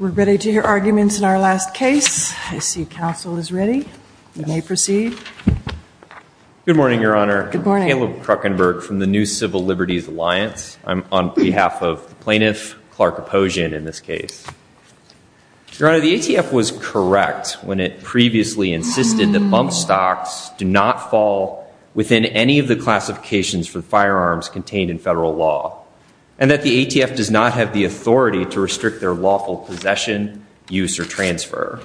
We're ready to hear arguments in our last case. I see counsel is ready. You may proceed. Good morning, Your Honor. I'm Caleb Kruckenberg from the New Civil Liberties Alliance. I'm on behalf of the plaintiff, Clark Aposhian, in this case. Your Honor, the ATF was correct when it previously insisted that bump stocks do not fall within any of the classifications for firearms contained in federal law and that the ATF does not have the authority to restrict their lawful possession, use, or transfer.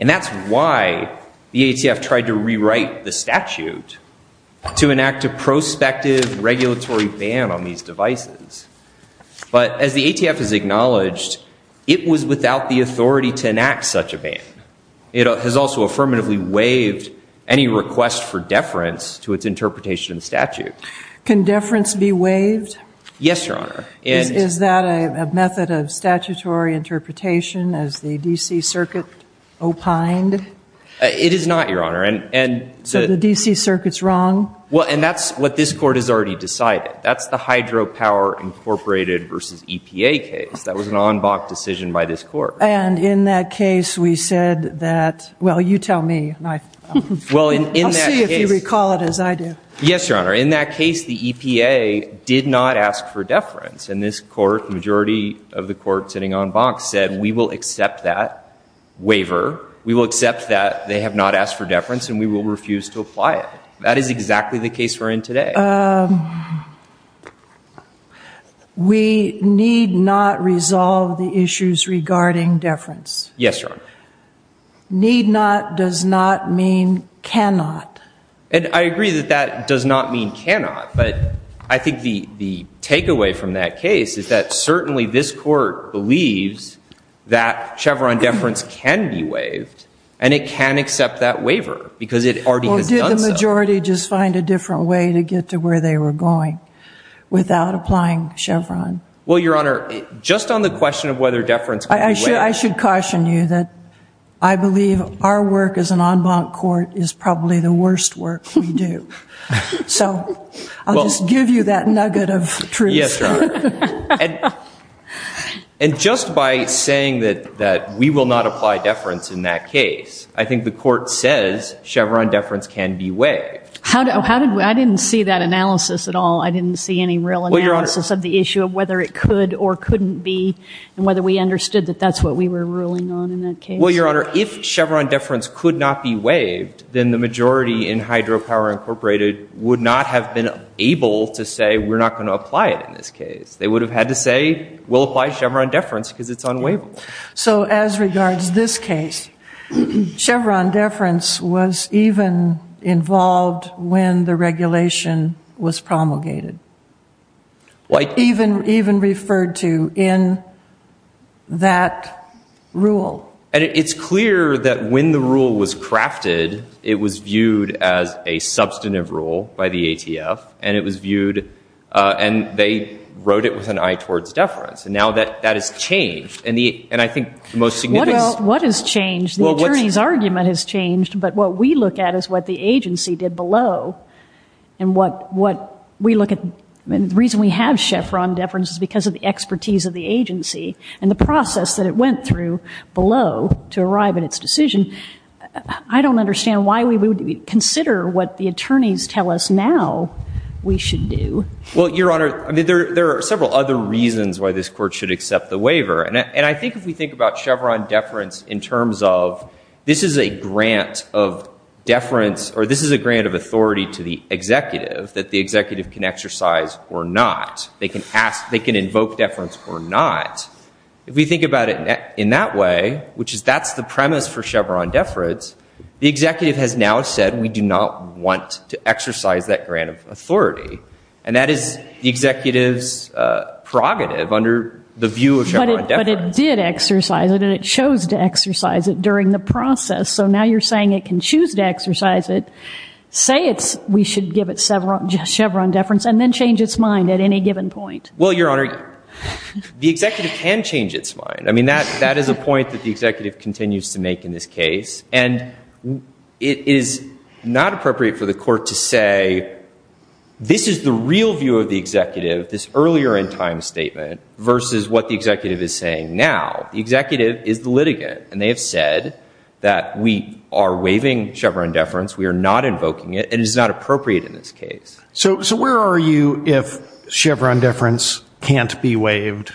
And that's why the ATF tried to rewrite the statute to enact a prospective regulatory ban on these devices. But as the ATF has acknowledged, it was without the authority to enact such a ban. It has also affirmatively waived any request for deference to its interpretation of the statute. Can deference be waived? Yes, Your Honor. Is that a method of statutory interpretation as the D.C. Circuit opined? It is not, Your Honor. So the D.C. Circuit's wrong? Well, and that's what this Court has already decided. That's the Hydropower Incorporated v. EPA case. That was an en banc decision by this Court. And in that case, we said that, well, you tell me. I'll see if you recall it as I do. Yes, Your Honor. In that case, the EPA did not ask for deference. And this Court, the majority of the Court sitting en banc, said, we will accept that waiver. We will accept that they have not asked for deference, and we will refuse to apply it. That is exactly the case we're in today. We need not resolve the issues regarding deference. Yes, Your Honor. Need not does not mean cannot. And I agree that that does not mean cannot. But I think the takeaway from that case is that certainly this Court believes that Chevron deference can be waived, and it can accept that waiver because it already has done so. Well, did the majority just find a different way to get to where they were going without applying Chevron? Well, Your Honor, just on the question of whether deference can be waived. I should caution you that I believe our work as an en banc court is probably the worst work we do. So I'll just give you that nugget of truth. Yes, Your Honor. And just by saying that we will not apply deference in that case, I think the Court says Chevron deference can be waived. I didn't see that analysis at all. I didn't see any real analysis of the issue of whether it could or couldn't be, and whether we understood that that's what we were ruling on in that case. Well, Your Honor, if Chevron deference could not be waived, then the majority in Hydropower Incorporated would not have been able to say we're not going to apply it in this case. They would have had to say we'll apply Chevron deference because it's unwaivable. So as regards this case, Chevron deference was even involved when the regulation was promulgated, even referred to in that rule. And it's clear that when the rule was crafted, it was viewed as a substantive rule by the ATF, and it was viewed and they wrote it with an eye towards deference. And now that has changed. And I think the most significant... What has changed? The attorney's argument has changed, but what we look at is what the agency did below. And what we look at, the reason we have Chevron deference is because of the expertise of the agency and the process that it went through below to arrive at its decision. I don't understand why we would consider what the attorneys tell us now we should do. Well, Your Honor, I mean, there are several other reasons why this Court should accept the waiver. And I think if we think about Chevron deference in terms of this is a grant of deference or this is a grant of authority to the executive that the executive can exercise or not. They can invoke deference or not. If we think about it in that way, which is that's the premise for Chevron deference, the executive has now said we do not want to exercise that grant of authority. And that is the executive's prerogative under the view of Chevron deference. But it did exercise it, and it chose to exercise it during the process. So now you're saying it can choose to exercise it, say we should give it Chevron deference, and then change its mind at any given point. Well, Your Honor, the executive can change its mind. I mean, that is a point that the executive continues to make in this case. And it is not appropriate for the Court to say this is the real view of the executive, this earlier in time statement, versus what the executive is saying now. The executive is the litigant, and they have said that we are waiving Chevron deference, we are not invoking it, and it is not appropriate in this case. So where are you if Chevron deference can't be waived?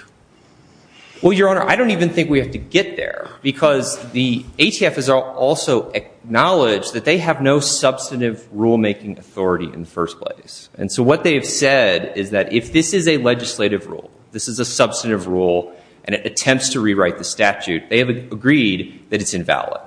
Well, Your Honor, I don't even think we have to get there because the ATF has also acknowledged that they have no substantive rulemaking authority in the first place. And so what they have said is that if this is a legislative rule, this is a substantive rule, and it attempts to rewrite the statute, they have agreed that it's invalid.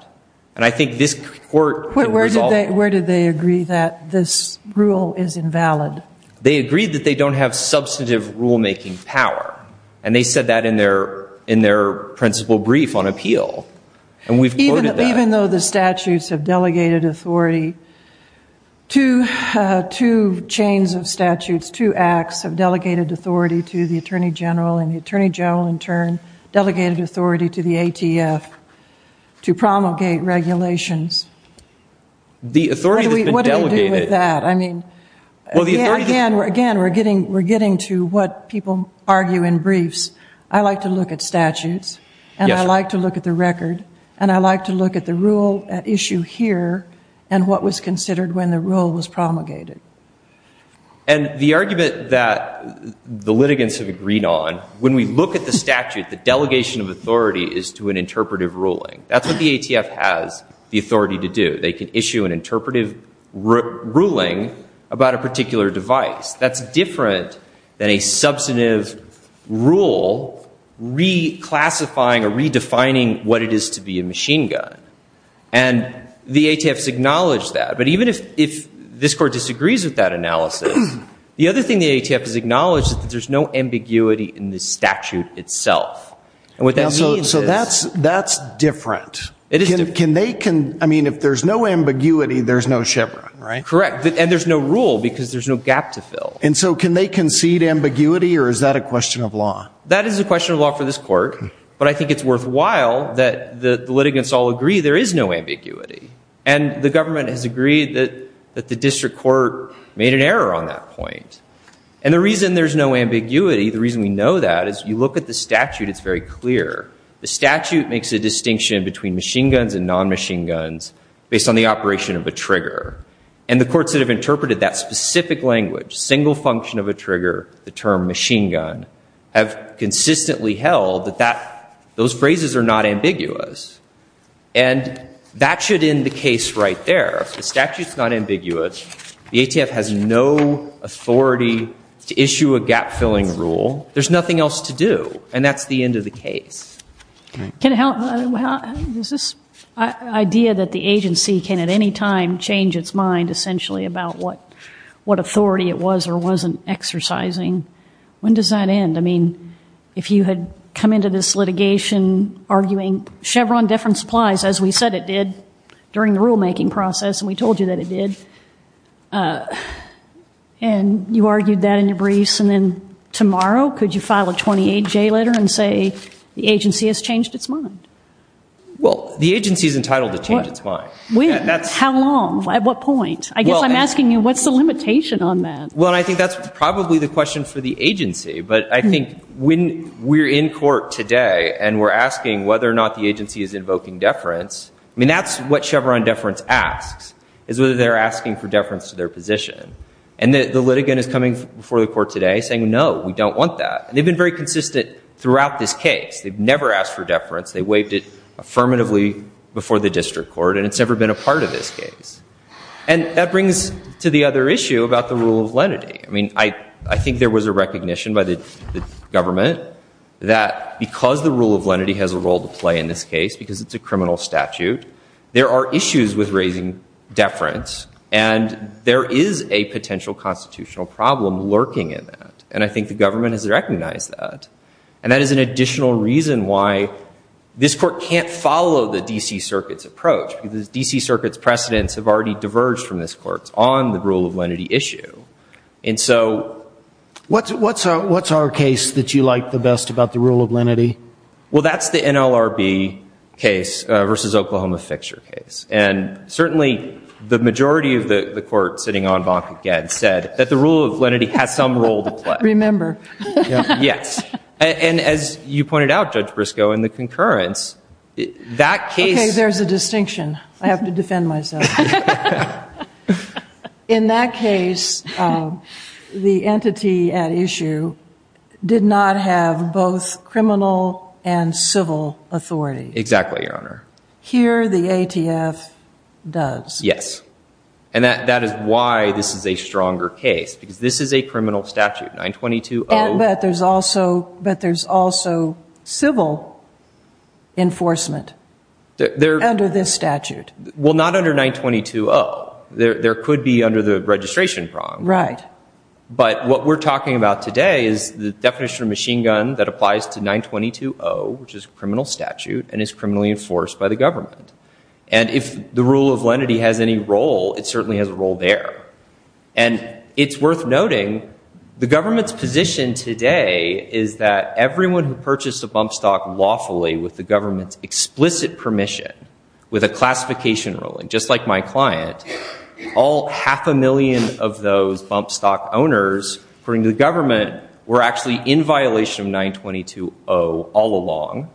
And I think this Court can resolve that. But where did they agree that this rule is invalid? They agreed that they don't have substantive rulemaking power. And they said that in their principal brief on appeal. And we've quoted that. Even though the statutes have delegated authority, two chains of statutes, two acts have delegated authority to the Attorney General, and the Attorney General in turn delegated authority to the ATF to promulgate regulations. The authority has been delegated. What do you do with that? Again, we're getting to what people argue in briefs. I like to look at statutes, and I like to look at the record, and I like to look at the rule at issue here and what was considered when the rule was promulgated. And the argument that the litigants have agreed on, when we look at the statute, the delegation of authority is to an interpretive ruling. That's what the ATF has the authority to do. They can issue an interpretive ruling about a particular device. That's different than a substantive rule reclassifying or redefining what it is to be a machine gun. And the ATF has acknowledged that. But even if this Court disagrees with that analysis, the other thing the ATF has acknowledged is that there's no ambiguity in the statute itself. And what that means is. So that's different. I mean, if there's no ambiguity, there's no Chevron, right? Correct. And there's no rule because there's no gap to fill. And so can they concede ambiguity, or is that a question of law? That is a question of law for this Court. But I think it's worthwhile that the litigants all agree there is no ambiguity. And the government has agreed that the district court made an error on that point. And the reason there's no ambiguity, the reason we know that, is you look at the statute, it's very clear. The statute makes a distinction between machine guns and non-machine guns based on the operation of a trigger. And the courts that have interpreted that specific language, single function of a trigger, the term machine gun, have consistently held that those phrases are not ambiguous. And that should end the case right there. The statute's not ambiguous. The ATF has no authority to issue a gap-filling rule. There's nothing else to do. And that's the end of the case. Is this idea that the agency can at any time change its mind, essentially, about what authority it was or wasn't exercising, when does that end? I mean, if you had come into this litigation arguing Chevron different supplies, as we said it did during the rulemaking process, and we told you that it did, and you argued that in your briefs, and then tomorrow could you file a 28-J letter and say the agency has changed its mind? Well, the agency's entitled to change its mind. When? How long? At what point? I guess I'm asking you, what's the limitation on that? Well, I think that's probably the question for the agency. But I think when we're in court today and we're asking whether or not the agency is invoking deference, I mean, that's what Chevron deference asks, is whether they're asking for deference to their position. And the litigant is coming before the court today saying, no, we don't want that. And they've been very consistent throughout this case. They've never asked for deference. They waived it affirmatively before the district court, and it's never been a part of this case. And that brings to the other issue about the rule of lenity. I mean, I think there was a recognition by the government that because the rule of lenity has a role to play in this case, because it's a criminal statute, there are issues with raising deference, and there is a potential constitutional problem lurking in that. And I think the government has recognized that. And that is an additional reason why this court can't follow the D.C. Circuit's approach, because the D.C. Circuit's precedents have already diverged from this court's on the rule of lenity issue. And so what's our case that you like the best about the rule of lenity? Well, that's the NLRB case versus Oklahoma Fixture case. And certainly the majority of the court sitting en banc again said that the rule of lenity has some role to play. Remember. Yes. And as you pointed out, Judge Briscoe, in the concurrence, that case- Okay, there's a distinction. I have to defend myself. In that case, the entity at issue did not have both criminal and civil authority. Exactly, Your Honor. Here the ATF does. Yes. And that is why this is a stronger case, because this is a criminal statute, 922-0. But there's also civil enforcement under this statute. Well, not under 922-0. There could be under the registration prong. Right. But what we're talking about today is the definition of machine gun that applies to 922-0, which is a criminal statute and is criminally enforced by the government. And if the rule of lenity has any role, it certainly has a role there. And it's worth noting the government's position today is that everyone who purchased a bump stock lawfully with the government's explicit permission, with a classification ruling, just like my client, all half a million of those bump stock owners, according to the government, were actually in violation of 922-0 all along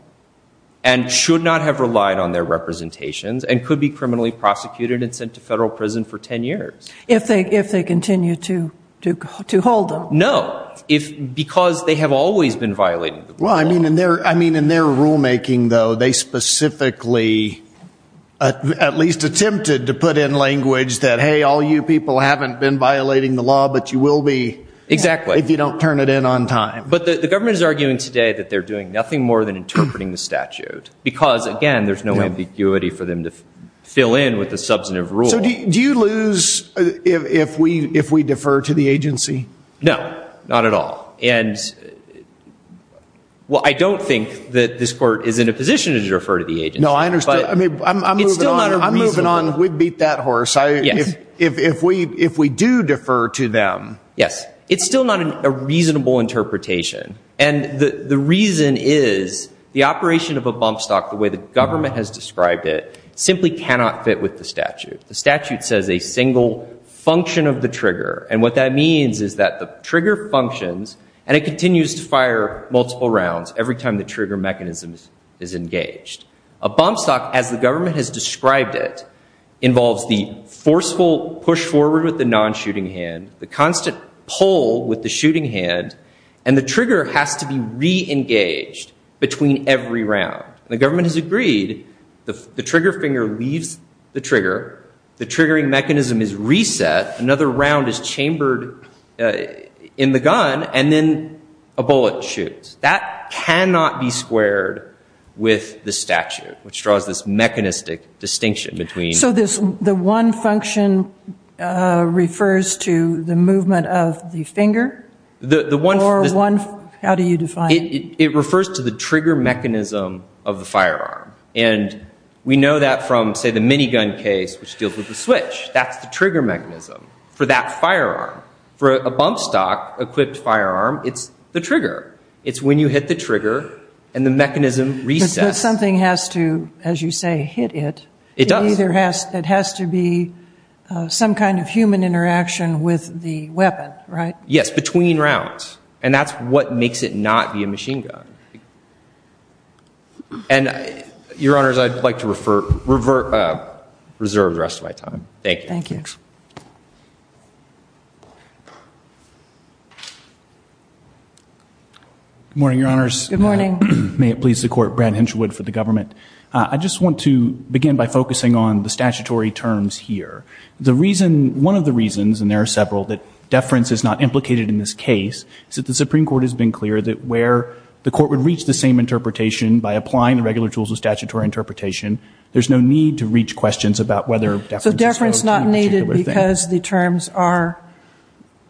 and should not have relied on their representations and could be criminally prosecuted and sent to federal prison for 10 years. If they continue to hold them. No. Because they have always been violating the rule of lenity. Well, I mean, in their rulemaking, though, they specifically at least attempted to put in language that, hey, all you people haven't been violating the law, but you will be. Exactly. If you don't turn it in on time. But the government is arguing today that they're doing nothing more than interpreting the statute. Because, again, there's no ambiguity for them to fill in with the substantive rule. So do you lose if we defer to the agency? No. Not at all. And, well, I don't think that this court is in a position to defer to the agency. No, I understand. But it's still not a reasonable. I'm moving on. I'm moving on. I'm going to beat that horse. Yes. If we do defer to them. Yes. It's still not a reasonable interpretation. And the reason is the operation of a bump stock, the way the government has described it, simply cannot fit with the statute. The statute says a single function of the trigger. And what that means is that the trigger functions and it continues to fire multiple rounds every time the trigger mechanism is engaged. A bump stock, as the government has described it, involves the forceful push forward with the non-shooting hand, the constant pull with the shooting hand, and the trigger has to be re-engaged between every round. And the government has agreed the trigger finger leaves the trigger, the triggering mechanism is reset, another round is chambered in the gun, and then a bullet shoots. That cannot be squared with the statute, which draws this mechanistic distinction between. So the one function refers to the movement of the finger? Or how do you define it? It refers to the trigger mechanism of the firearm. And we know that from, say, the minigun case, which deals with the switch. That's the trigger mechanism for that firearm. For a bump stock equipped firearm, it's the trigger. It's when you hit the trigger and the mechanism resets. But something has to, as you say, hit it. It does. It has to be some kind of human interaction with the weapon, right? Yes, between rounds. And that's what makes it not be a machine gun. And, Your Honors, I'd like to reserve the rest of my time. Thank you. Thank you. Good morning, Your Honors. Good morning. May it please the Court, Brad Hinchwood for the government. I just want to begin by focusing on the statutory terms here. One of the reasons, and there are several, that deference is not implicated in this case, is that the Supreme Court has been clear that where the Court would reach the same interpretation by applying the regular tools of statutory interpretation, there's no need to reach questions about whether deference is required. So deference is not needed because the terms are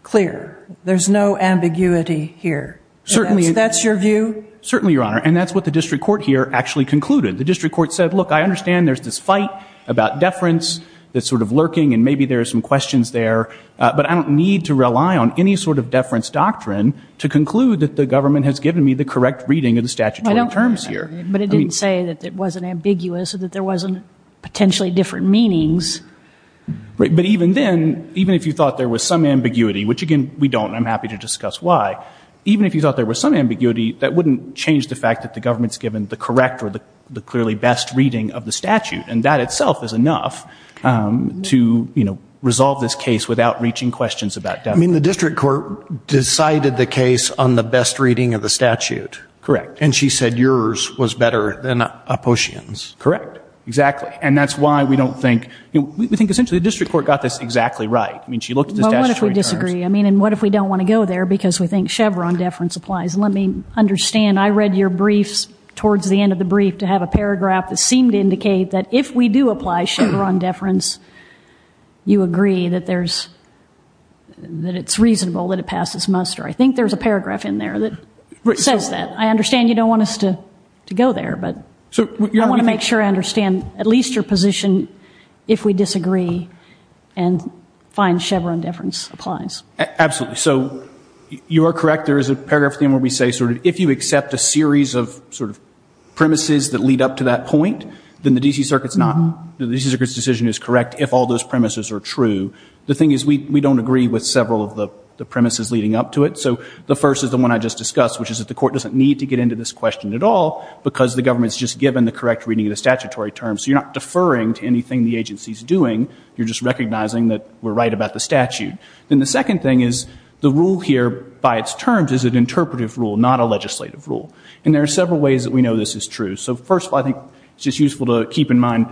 clear. There's no ambiguity here. Certainly. That's your view? Certainly, Your Honor. And that's what the district court here actually concluded. The district court said, look, I understand there's this fight about deference that's sort of lurking and maybe there are some questions there, but I don't need to rely on any sort of deference doctrine to conclude that the government has given me the correct reading of the statutory terms here. But it didn't say that it wasn't ambiguous or that there wasn't potentially different meanings. Right. But even then, even if you thought there was some ambiguity, which, again, we don't, and I'm happy to discuss why, even if you thought there was some ambiguity, that wouldn't change the fact that the government's given the correct or the clearly best reading of the statute. And that itself is enough to, you know, resolve this case without reaching questions about deference. I mean, the district court decided the case on the best reading of the statute. Correct. And she said yours was better than Opossian's. Correct. Exactly. And that's why we don't think, we think essentially the district court got this exactly right. I mean, she looked at the statutory terms. Well, what if we disagree? I mean, and what if we don't want to go there because we think Chevron deference applies? Let me understand. I read your briefs towards the end of the brief to have a paragraph that seemed to indicate that if we do apply Chevron deference, you agree that it's reasonable that it passes muster. I think there's a paragraph in there that says that. I understand you don't want us to go there, but I want to make sure I understand at least your position if we disagree and find Chevron deference applies. Absolutely. So you are correct. There is a paragraph in there where we say sort of if you accept a series of sort of premises that lead up to that point, then the D.C. Circuit's decision is correct if all those premises are true. The thing is we don't agree with several of the premises leading up to it. So the first is the one I just discussed, which is that the court doesn't need to get into this question at all because the government's just given the correct reading of the statutory terms. So you're not deferring to anything the agency's doing. You're just recognizing that we're right about the statute. Then the second thing is the rule here by its terms is an interpretive rule, not a legislative rule. And there are several ways that we know this is true. So first of all, I think it's just useful to keep in mind,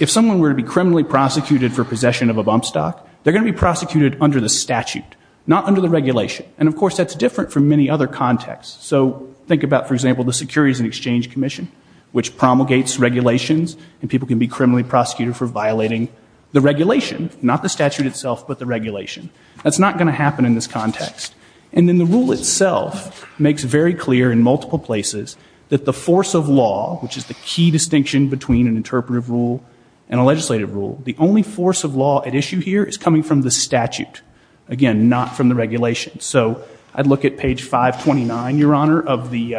if someone were to be criminally prosecuted for possession of a bump stock, they're going to be prosecuted under the statute, not under the regulation. And, of course, that's different from many other contexts. So think about, for example, the Securities and Exchange Commission, which promulgates regulations and people can be criminally prosecuted for violating the regulation, not the statute itself, but the regulation. That's not going to happen in this context. And then the rule itself makes very clear in multiple places that the force of law, which is the key distinction between an interpretive rule and a legislative rule, the only force of law at issue here is coming from the statute, again, not from the regulation. So I'd look at page 529, Your Honor, of the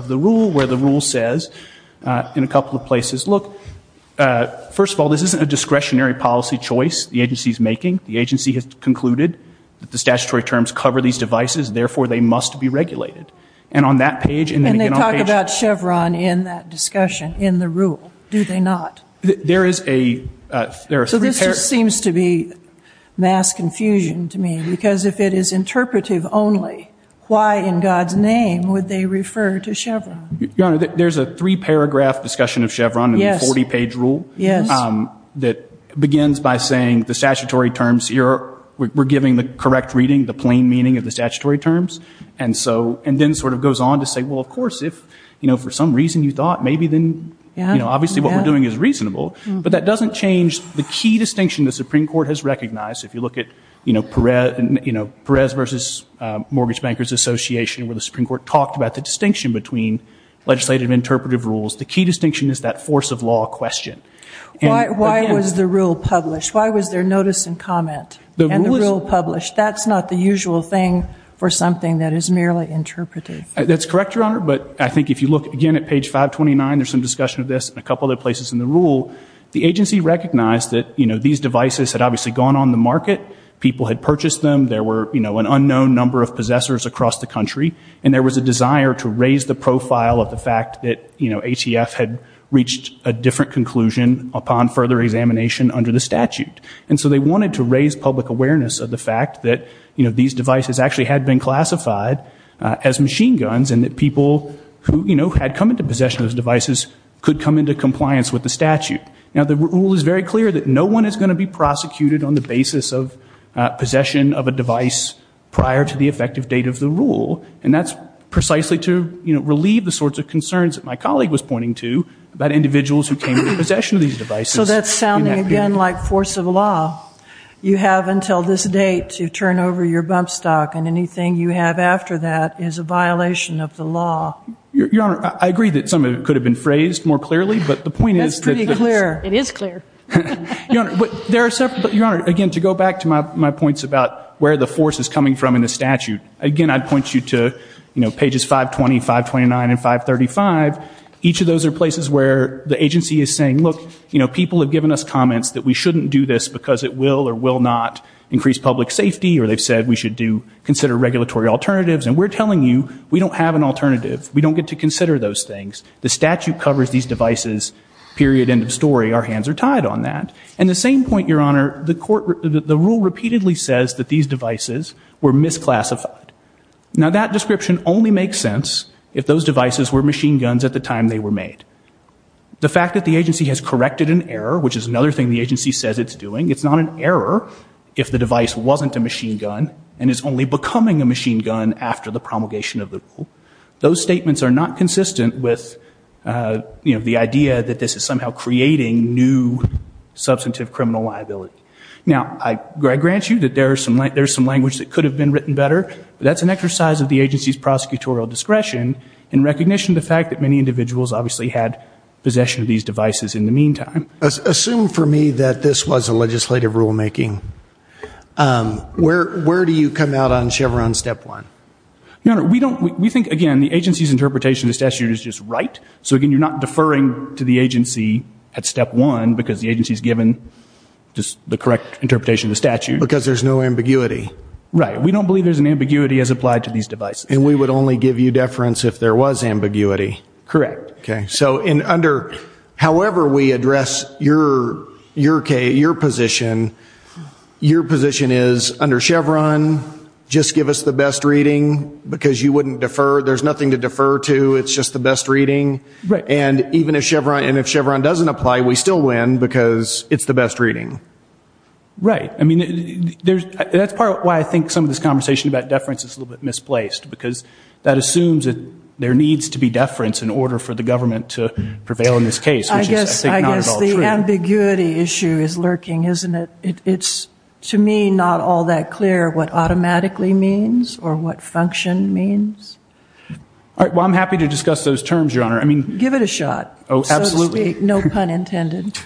rule where the rule says in a couple of places, look, first of all, this isn't a discretionary policy choice the agency is making. The agency has concluded that the statutory terms cover these devices. Therefore, they must be regulated. And on that page and then again on page- And they talk about Chevron in that discussion, in the rule, do they not? There is a- So this just seems to be mass confusion to me because if it is interpretive only, why in God's name would they refer to Chevron? Your Honor, there's a three-paragraph discussion of Chevron in the 40-page rule that begins by saying the statutory terms, we're giving the correct reading, the plain meaning of the statutory terms, and then sort of goes on to say, well, of course, if for some reason you thought, maybe then, obviously what we're doing is reasonable. But that doesn't change the key distinction the Supreme Court has recognized. If you look at Perez v. Mortgage Bankers Association, where the Supreme Court talked about the distinction between legislative and interpretive rules, the key distinction is that force of law question. Why was the rule published? Why was there notice and comment and the rule published? That's not the usual thing for something that is merely interpretive. That's correct, Your Honor. But I think if you look again at page 529, there's some discussion of this and a couple other places in the rule, the agency recognized that, you know, these devices had obviously gone on the market, people had purchased them, there were, you know, an unknown number of possessors across the country, and there was a desire to raise the profile of the fact that, you know, ATF had reached a different conclusion upon further examination under the statute. And so they wanted to raise public awareness of the fact that, you know, these devices actually had been classified as machine guns and that people who, you know, had come into possession of those devices could come into compliance with the statute. Now, the rule is very clear that no one is going to be prosecuted on the basis of possession of a device prior to the effective date of the rule. And that's precisely to, you know, relieve the sorts of concerns that my colleague was pointing to about individuals who came into possession of these devices. So that's sounding again like force of law. You have until this date to turn over your bump stock, and anything you have after that is a violation of the law. Your Honor, I agree that some of it could have been phrased more clearly, but the point is that... That's pretty clear. It is clear. Your Honor, there are several... Your Honor, again, to go back to my points about where the force is coming from in the statute, again, I'd point you to, you know, pages 520, 529, and 535. Each of those are places where the agency is saying, look, you know, people have given us comments that we shouldn't do this because it will or will not increase public safety or they've said we should consider regulatory alternatives, and we're telling you we don't have an alternative. We don't get to consider those things. The statute covers these devices, period, end of story. Our hands are tied on that. And the same point, Your Honor, the rule repeatedly says that these devices were misclassified. Now, that description only makes sense if those devices were machine guns at the time they were made. The fact that the agency has corrected an error, which is another thing the agency says it's doing, it's not an error if the device wasn't a machine gun and is only becoming a machine gun after the promulgation of the rule. Those statements are not consistent with, you know, the idea that this is somehow creating new substantive criminal liability. Now, I grant you that there is some language that could have been written better, but that's an exercise of the agency's prosecutorial discretion in recognition of the fact that many individuals obviously had possession of these devices in the meantime. Assume for me that this was a legislative rulemaking. Where do you come out on Chevron Step 1? Your Honor, we think, again, the agency's interpretation of the statute is just right. So, again, you're not deferring to the agency at Step 1 because the agency's given the correct interpretation of the statute. Because there's no ambiguity. Right. We don't believe there's an ambiguity as applied to these devices. And we would only give you deference if there was ambiguity. Correct. Okay. So, however we address your position, your position is under Chevron, just give us the best reading because you wouldn't defer. There's nothing to defer to. It's just the best reading. Right. And even if Chevron doesn't apply, we still win because it's the best reading. Right. I mean, that's part of why I think some of this conversation about deference is a little bit misplaced because that assumes that there needs to be deference in order for the government to prevail in this case, which is, I think, not at all true. I guess the ambiguity issue is lurking, isn't it? It's, to me, not all that clear what automatically means or what function means. Well, I'm happy to discuss those terms, your Honor. Give it a shot, so to speak. Oh, absolutely. No pun intended.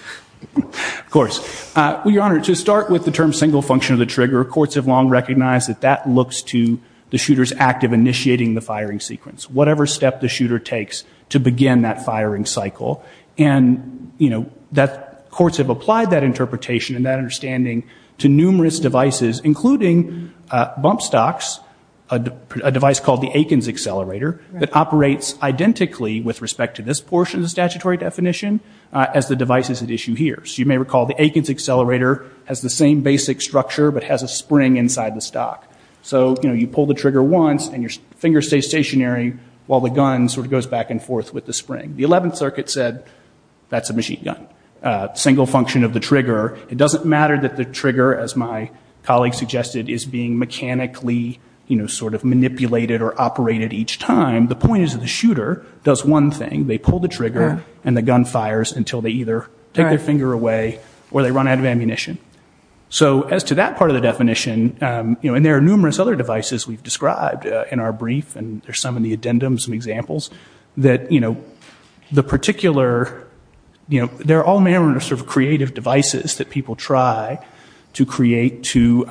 Of course. Well, your Honor, to start with the term single function of the trigger, courts have long recognized that that looks to the shooter's act of initiating the firing sequence, whatever step the shooter takes to begin that firing cycle. And courts have applied that interpretation and that understanding to numerous devices, including bump stocks, a device called the Akins accelerator, that operates identically with respect to this portion of the statutory definition as the devices at issue here. So you may recall the Akins accelerator has the same basic structure but has a spring inside the stock. So, you know, you pull the trigger once and your finger stays stationary while the gun sort of goes back and forth with the spring. The 11th Circuit said that's a machine gun, single function of the trigger. It doesn't matter that the trigger, as my colleague suggested, is being mechanically, you know, sort of manipulated or operated each time. The point is that the shooter does one thing. They pull the trigger and the gun fires until they either take their finger away or they run out of ammunition. So as to that part of the definition, you know, and there are numerous other devices we've described in our brief, and there's some in the addendum, some examples, that, you know, the particular, you know, there are all manner of sort of creative devices that people try to create to,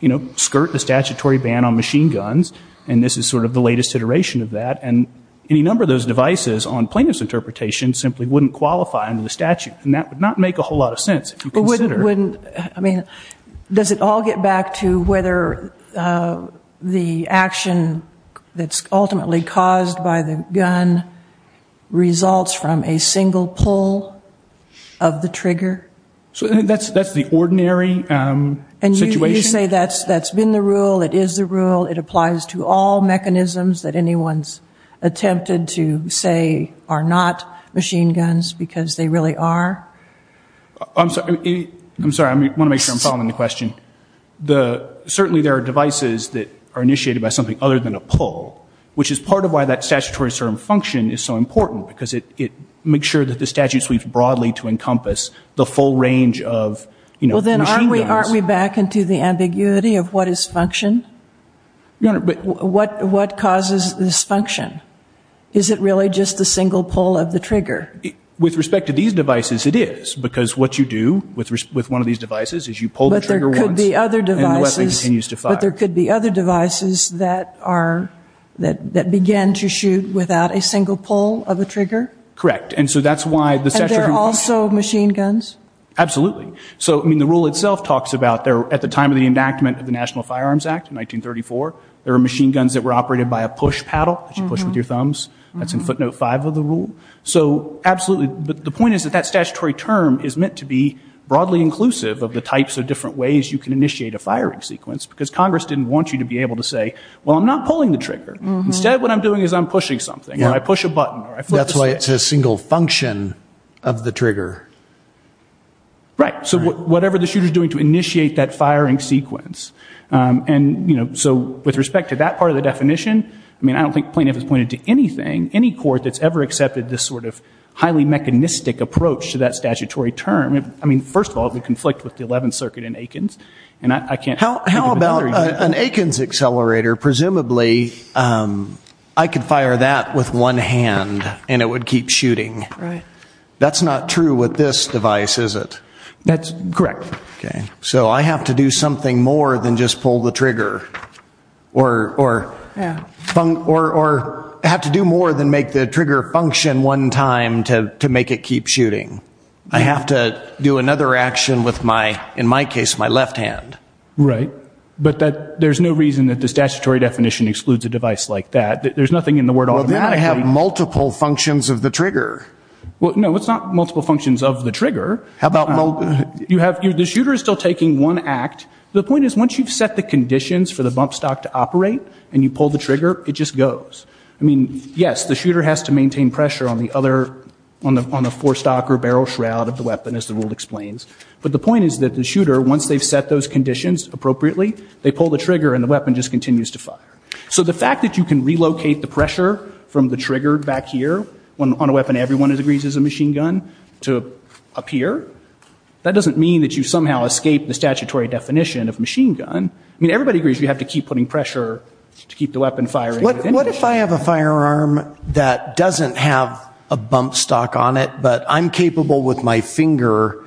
you know, skirt the statutory ban on machine guns, and this is sort of the latest iteration of that. And any number of those devices on plaintiff's interpretation simply wouldn't qualify under the statute, and that would not make a whole lot of sense if you consider. But wouldn't, I mean, does it all get back to whether the action that's ultimately caused by the gun results from a single pull of the trigger? So that's the ordinary situation. And you say that's been the rule, it is the rule, it applies to all mechanisms that anyone's attempted to say are not machine guns because they really are? I'm sorry, I want to make sure I'm following the question. Certainly there are devices that are initiated by something other than a pull, which is part of why that statutory function is so important, because it makes sure that the statute sweeps broadly to encompass the full range of, you know, machine guns. Aren't we back into the ambiguity of what is function? What causes this function? Is it really just a single pull of the trigger? With respect to these devices, it is, because what you do with one of these devices is you pull the trigger once, and the weapon continues to fire. But there could be other devices that are, that begin to shoot without a single pull of a trigger? Correct. And so that's why the statute... And they're also machine guns? Absolutely. So, I mean, the rule itself talks about, at the time of the enactment of the National Firearms Act in 1934, there were machine guns that were operated by a push paddle that you push with your thumbs. That's in footnote five of the rule. So, absolutely. But the point is that that statutory term is meant to be broadly inclusive of the types of different ways you can initiate a firing sequence, because Congress didn't want you to be able to say, well, I'm not pulling the trigger. Instead, what I'm doing is I'm pushing something, or I push a button, or I flip a switch. So it's a single function of the trigger. Right. So whatever the shooter is doing to initiate that firing sequence. And, you know, so with respect to that part of the definition, I mean, I don't think plaintiff has pointed to anything, any court that's ever accepted this sort of highly mechanistic approach to that statutory term. I mean, first of all, it would conflict with the Eleventh Circuit and Aikens. And I can't... How about an Aikens accelerator? Presumably, I could fire that with one hand, and it would keep shooting. Right. That's not true with this device, is it? That's correct. Okay. So I have to do something more than just pull the trigger, or have to do more than make the trigger function one time to make it keep shooting. I have to do another action with my, in my case, my left hand. Right. But there's no reason that the statutory definition excludes a device like that. There's nothing in the word automatically. Well, then I have multiple functions of the trigger. Well, no, it's not multiple functions of the trigger. How about... You have, the shooter is still taking one act. The point is, once you've set the conditions for the bump stock to operate, and you pull the trigger, it just goes. I mean, yes, the shooter has to maintain pressure on the other, on the forestock or barrel shroud of the weapon, as the rule explains. But the point is that the shooter, once they've set those conditions appropriately, they pull the trigger and the weapon just continues to fire. So the fact that you can relocate the pressure from the trigger back here, on a weapon everyone agrees is a machine gun, to up here, that doesn't mean that you somehow escape the statutory definition of machine gun. I mean, everybody agrees you have to keep putting pressure to keep the weapon firing. What if I have a firearm that doesn't have a bump stock on it, but I'm capable with my finger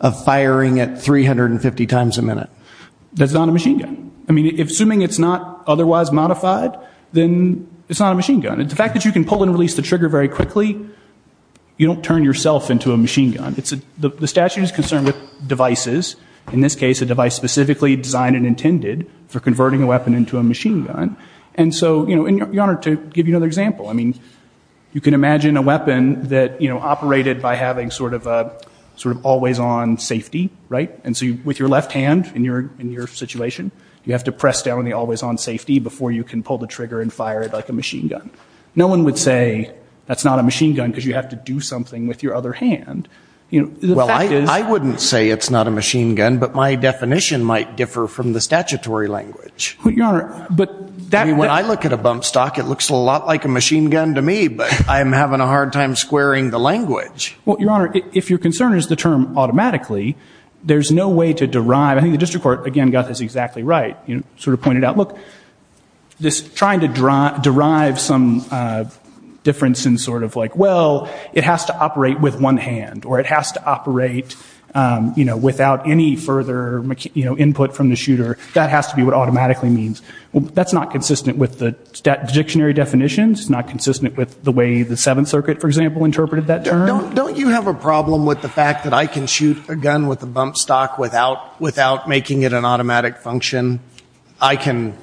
of firing it 350 times a minute? That's not a machine gun. I mean, assuming it's not otherwise modified, then it's not a machine gun. And the fact that you can pull and release the trigger very quickly, you don't turn yourself into a machine gun. The statute is concerned with devices, in this case a device specifically designed and intended for converting a weapon into a machine gun. And so, Your Honor, to give you another example, I mean, you can imagine a weapon that operated by having sort of always-on safety, right? And so with your left hand, in your situation, you have to press down on the always-on safety before you can pull the trigger and fire it like a machine gun. No one would say that's not a machine gun because you have to do something with your other hand. Well, I wouldn't say it's not a machine gun, but my definition might differ from the statutory language. I mean, when I look at a bump stock, it looks a lot like a machine gun to me, but I'm having a hard time squaring the language. Well, Your Honor, if your concern is the term automatically, there's no way to derive. I think the district court, again, got this exactly right. It sort of pointed out, look, this trying to derive some difference in sort of like, well, it has to operate with one hand, or it has to operate without any further input from the shooter. That has to be what automatically means. That's not consistent with the dictionary definitions. It's not consistent with the way the Seventh Circuit, for example, interpreted that term. Don't you have a problem with the fact that I can shoot a gun with a bump stock without making it an automatic function? I can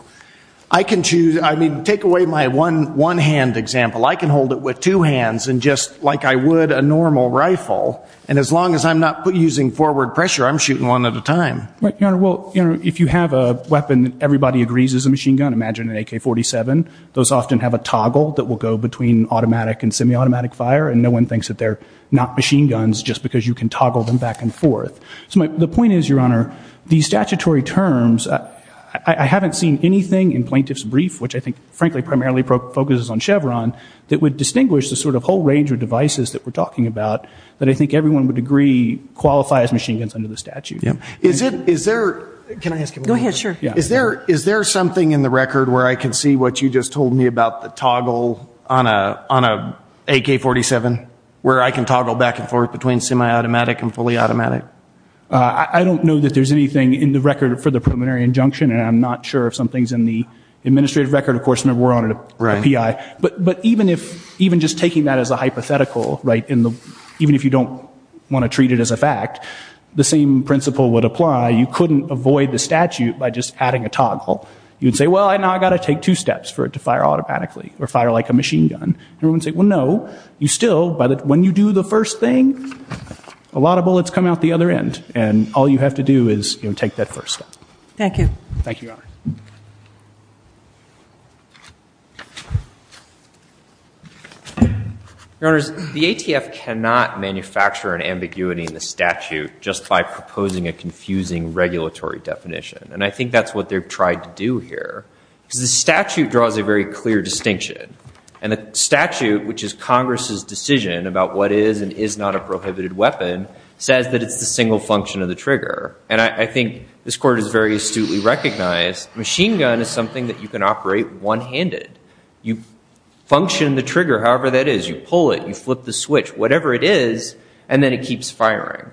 choose. I mean, take away my one-hand example. I can hold it with two hands and just, like I would a normal rifle. And as long as I'm not using forward pressure, I'm shooting one at a time. Right, Your Honor. Well, if you have a weapon that everybody agrees is a machine gun, imagine an AK-47. Those often have a toggle that will go between automatic and semi-automatic fire, and no one thinks that they're not machine guns just because you can toggle them back and forth. So the point is, Your Honor, the statutory terms, I haven't seen anything in plaintiff's brief, which I think, frankly, primarily focuses on Chevron, that would distinguish the sort of whole range of devices that we're talking about that I think everyone would agree qualify as machine guns under the statute. Is there something in the record where I can see what you just told me about the toggle on an AK-47, where I can toggle back and forth between semi-automatic and fully automatic? I don't know that there's anything in the record for the preliminary injunction, and I'm not sure if something's in the administrative record. Of course, remember, we're on a PI. But even just taking that as a hypothetical, even if you don't want to treat it as a fact, the same principle would apply. You couldn't avoid the statute by just adding a toggle. You'd say, well, now I've got to take two steps for it to fire automatically or fire like a machine gun. Everyone would say, well, no, you still, when you do the first thing, a lot of bullets come out the other end, and all you have to do is take that first step. Thank you. Thank you, Your Honor. Your Honors, the ATF cannot manufacture an ambiguity in the statute just by proposing a confusing regulatory definition. And I think that's what they've tried to do here, because the statute draws a very clear distinction. And the statute, which is Congress's decision about what is and is not a prohibited weapon, says that it's the single function of the trigger. And I think this Court has very astutely recognized machine gun is something that you can operate one-handed. You function the trigger however that is. You pull it, you flip the switch, whatever it is, and then it keeps firing.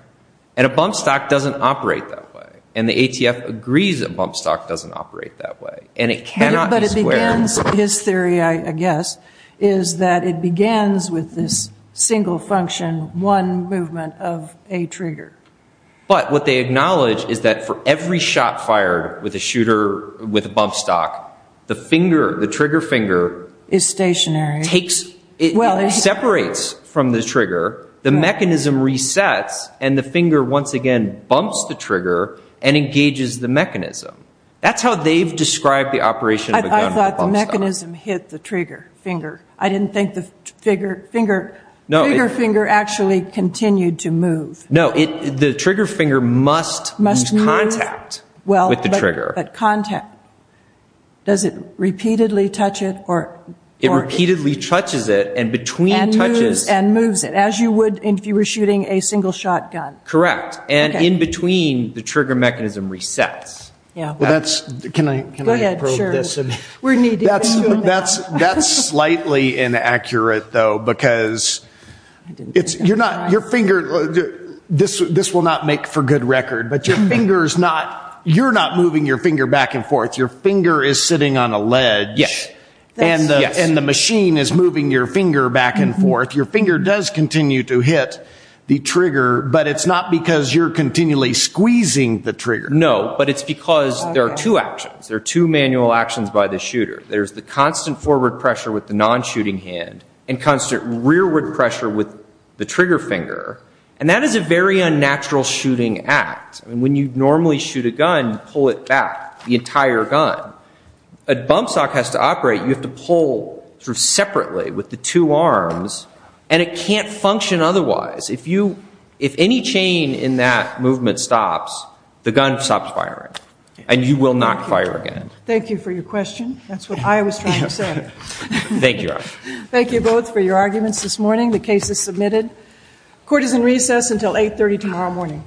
And a bump stock doesn't operate that way. And the ATF agrees a bump stock doesn't operate that way. And it cannot be squared. But it begins, his theory, I guess, is that it begins with this single function, one movement of a trigger. But what they acknowledge is that for every shot fired with a bump stock, the trigger finger separates from the trigger, the mechanism resets, and the finger once again bumps the trigger and engages the mechanism. That's how they've described the operation of a gun with a bump stock. I thought the mechanism hit the trigger finger. I didn't think the trigger finger actually continued to move. No, the trigger finger must use contact with the trigger. Does it repeatedly touch it? It repeatedly touches it and between touches. And moves it, as you would if you were shooting a single-shot gun. Correct. And in between, the trigger mechanism resets. Can I probe this? Go ahead, sure. That's slightly inaccurate, though, because this will not make for good record, but you're not moving your finger back and forth. Your finger is sitting on a ledge. Yes. And the machine is moving your finger back and forth. Your finger does continue to hit the trigger, but it's not because you're continually squeezing the trigger. No, but it's because there are two actions. There are two manual actions by the shooter. There's the constant forward pressure with the non-shooting hand and constant rearward pressure with the trigger finger. And that is a very unnatural shooting act. When you normally shoot a gun, pull it back, the entire gun. A bump stock has to operate. You have to pull through separately with the two arms, and it can't function otherwise. If any chain in that movement stops, the gun stops firing, and you will not fire again. Thank you for your question. That's what I was trying to say. Thank you, both, for your arguments this morning. The case is submitted. Court is in recess until 8.30 tomorrow morning.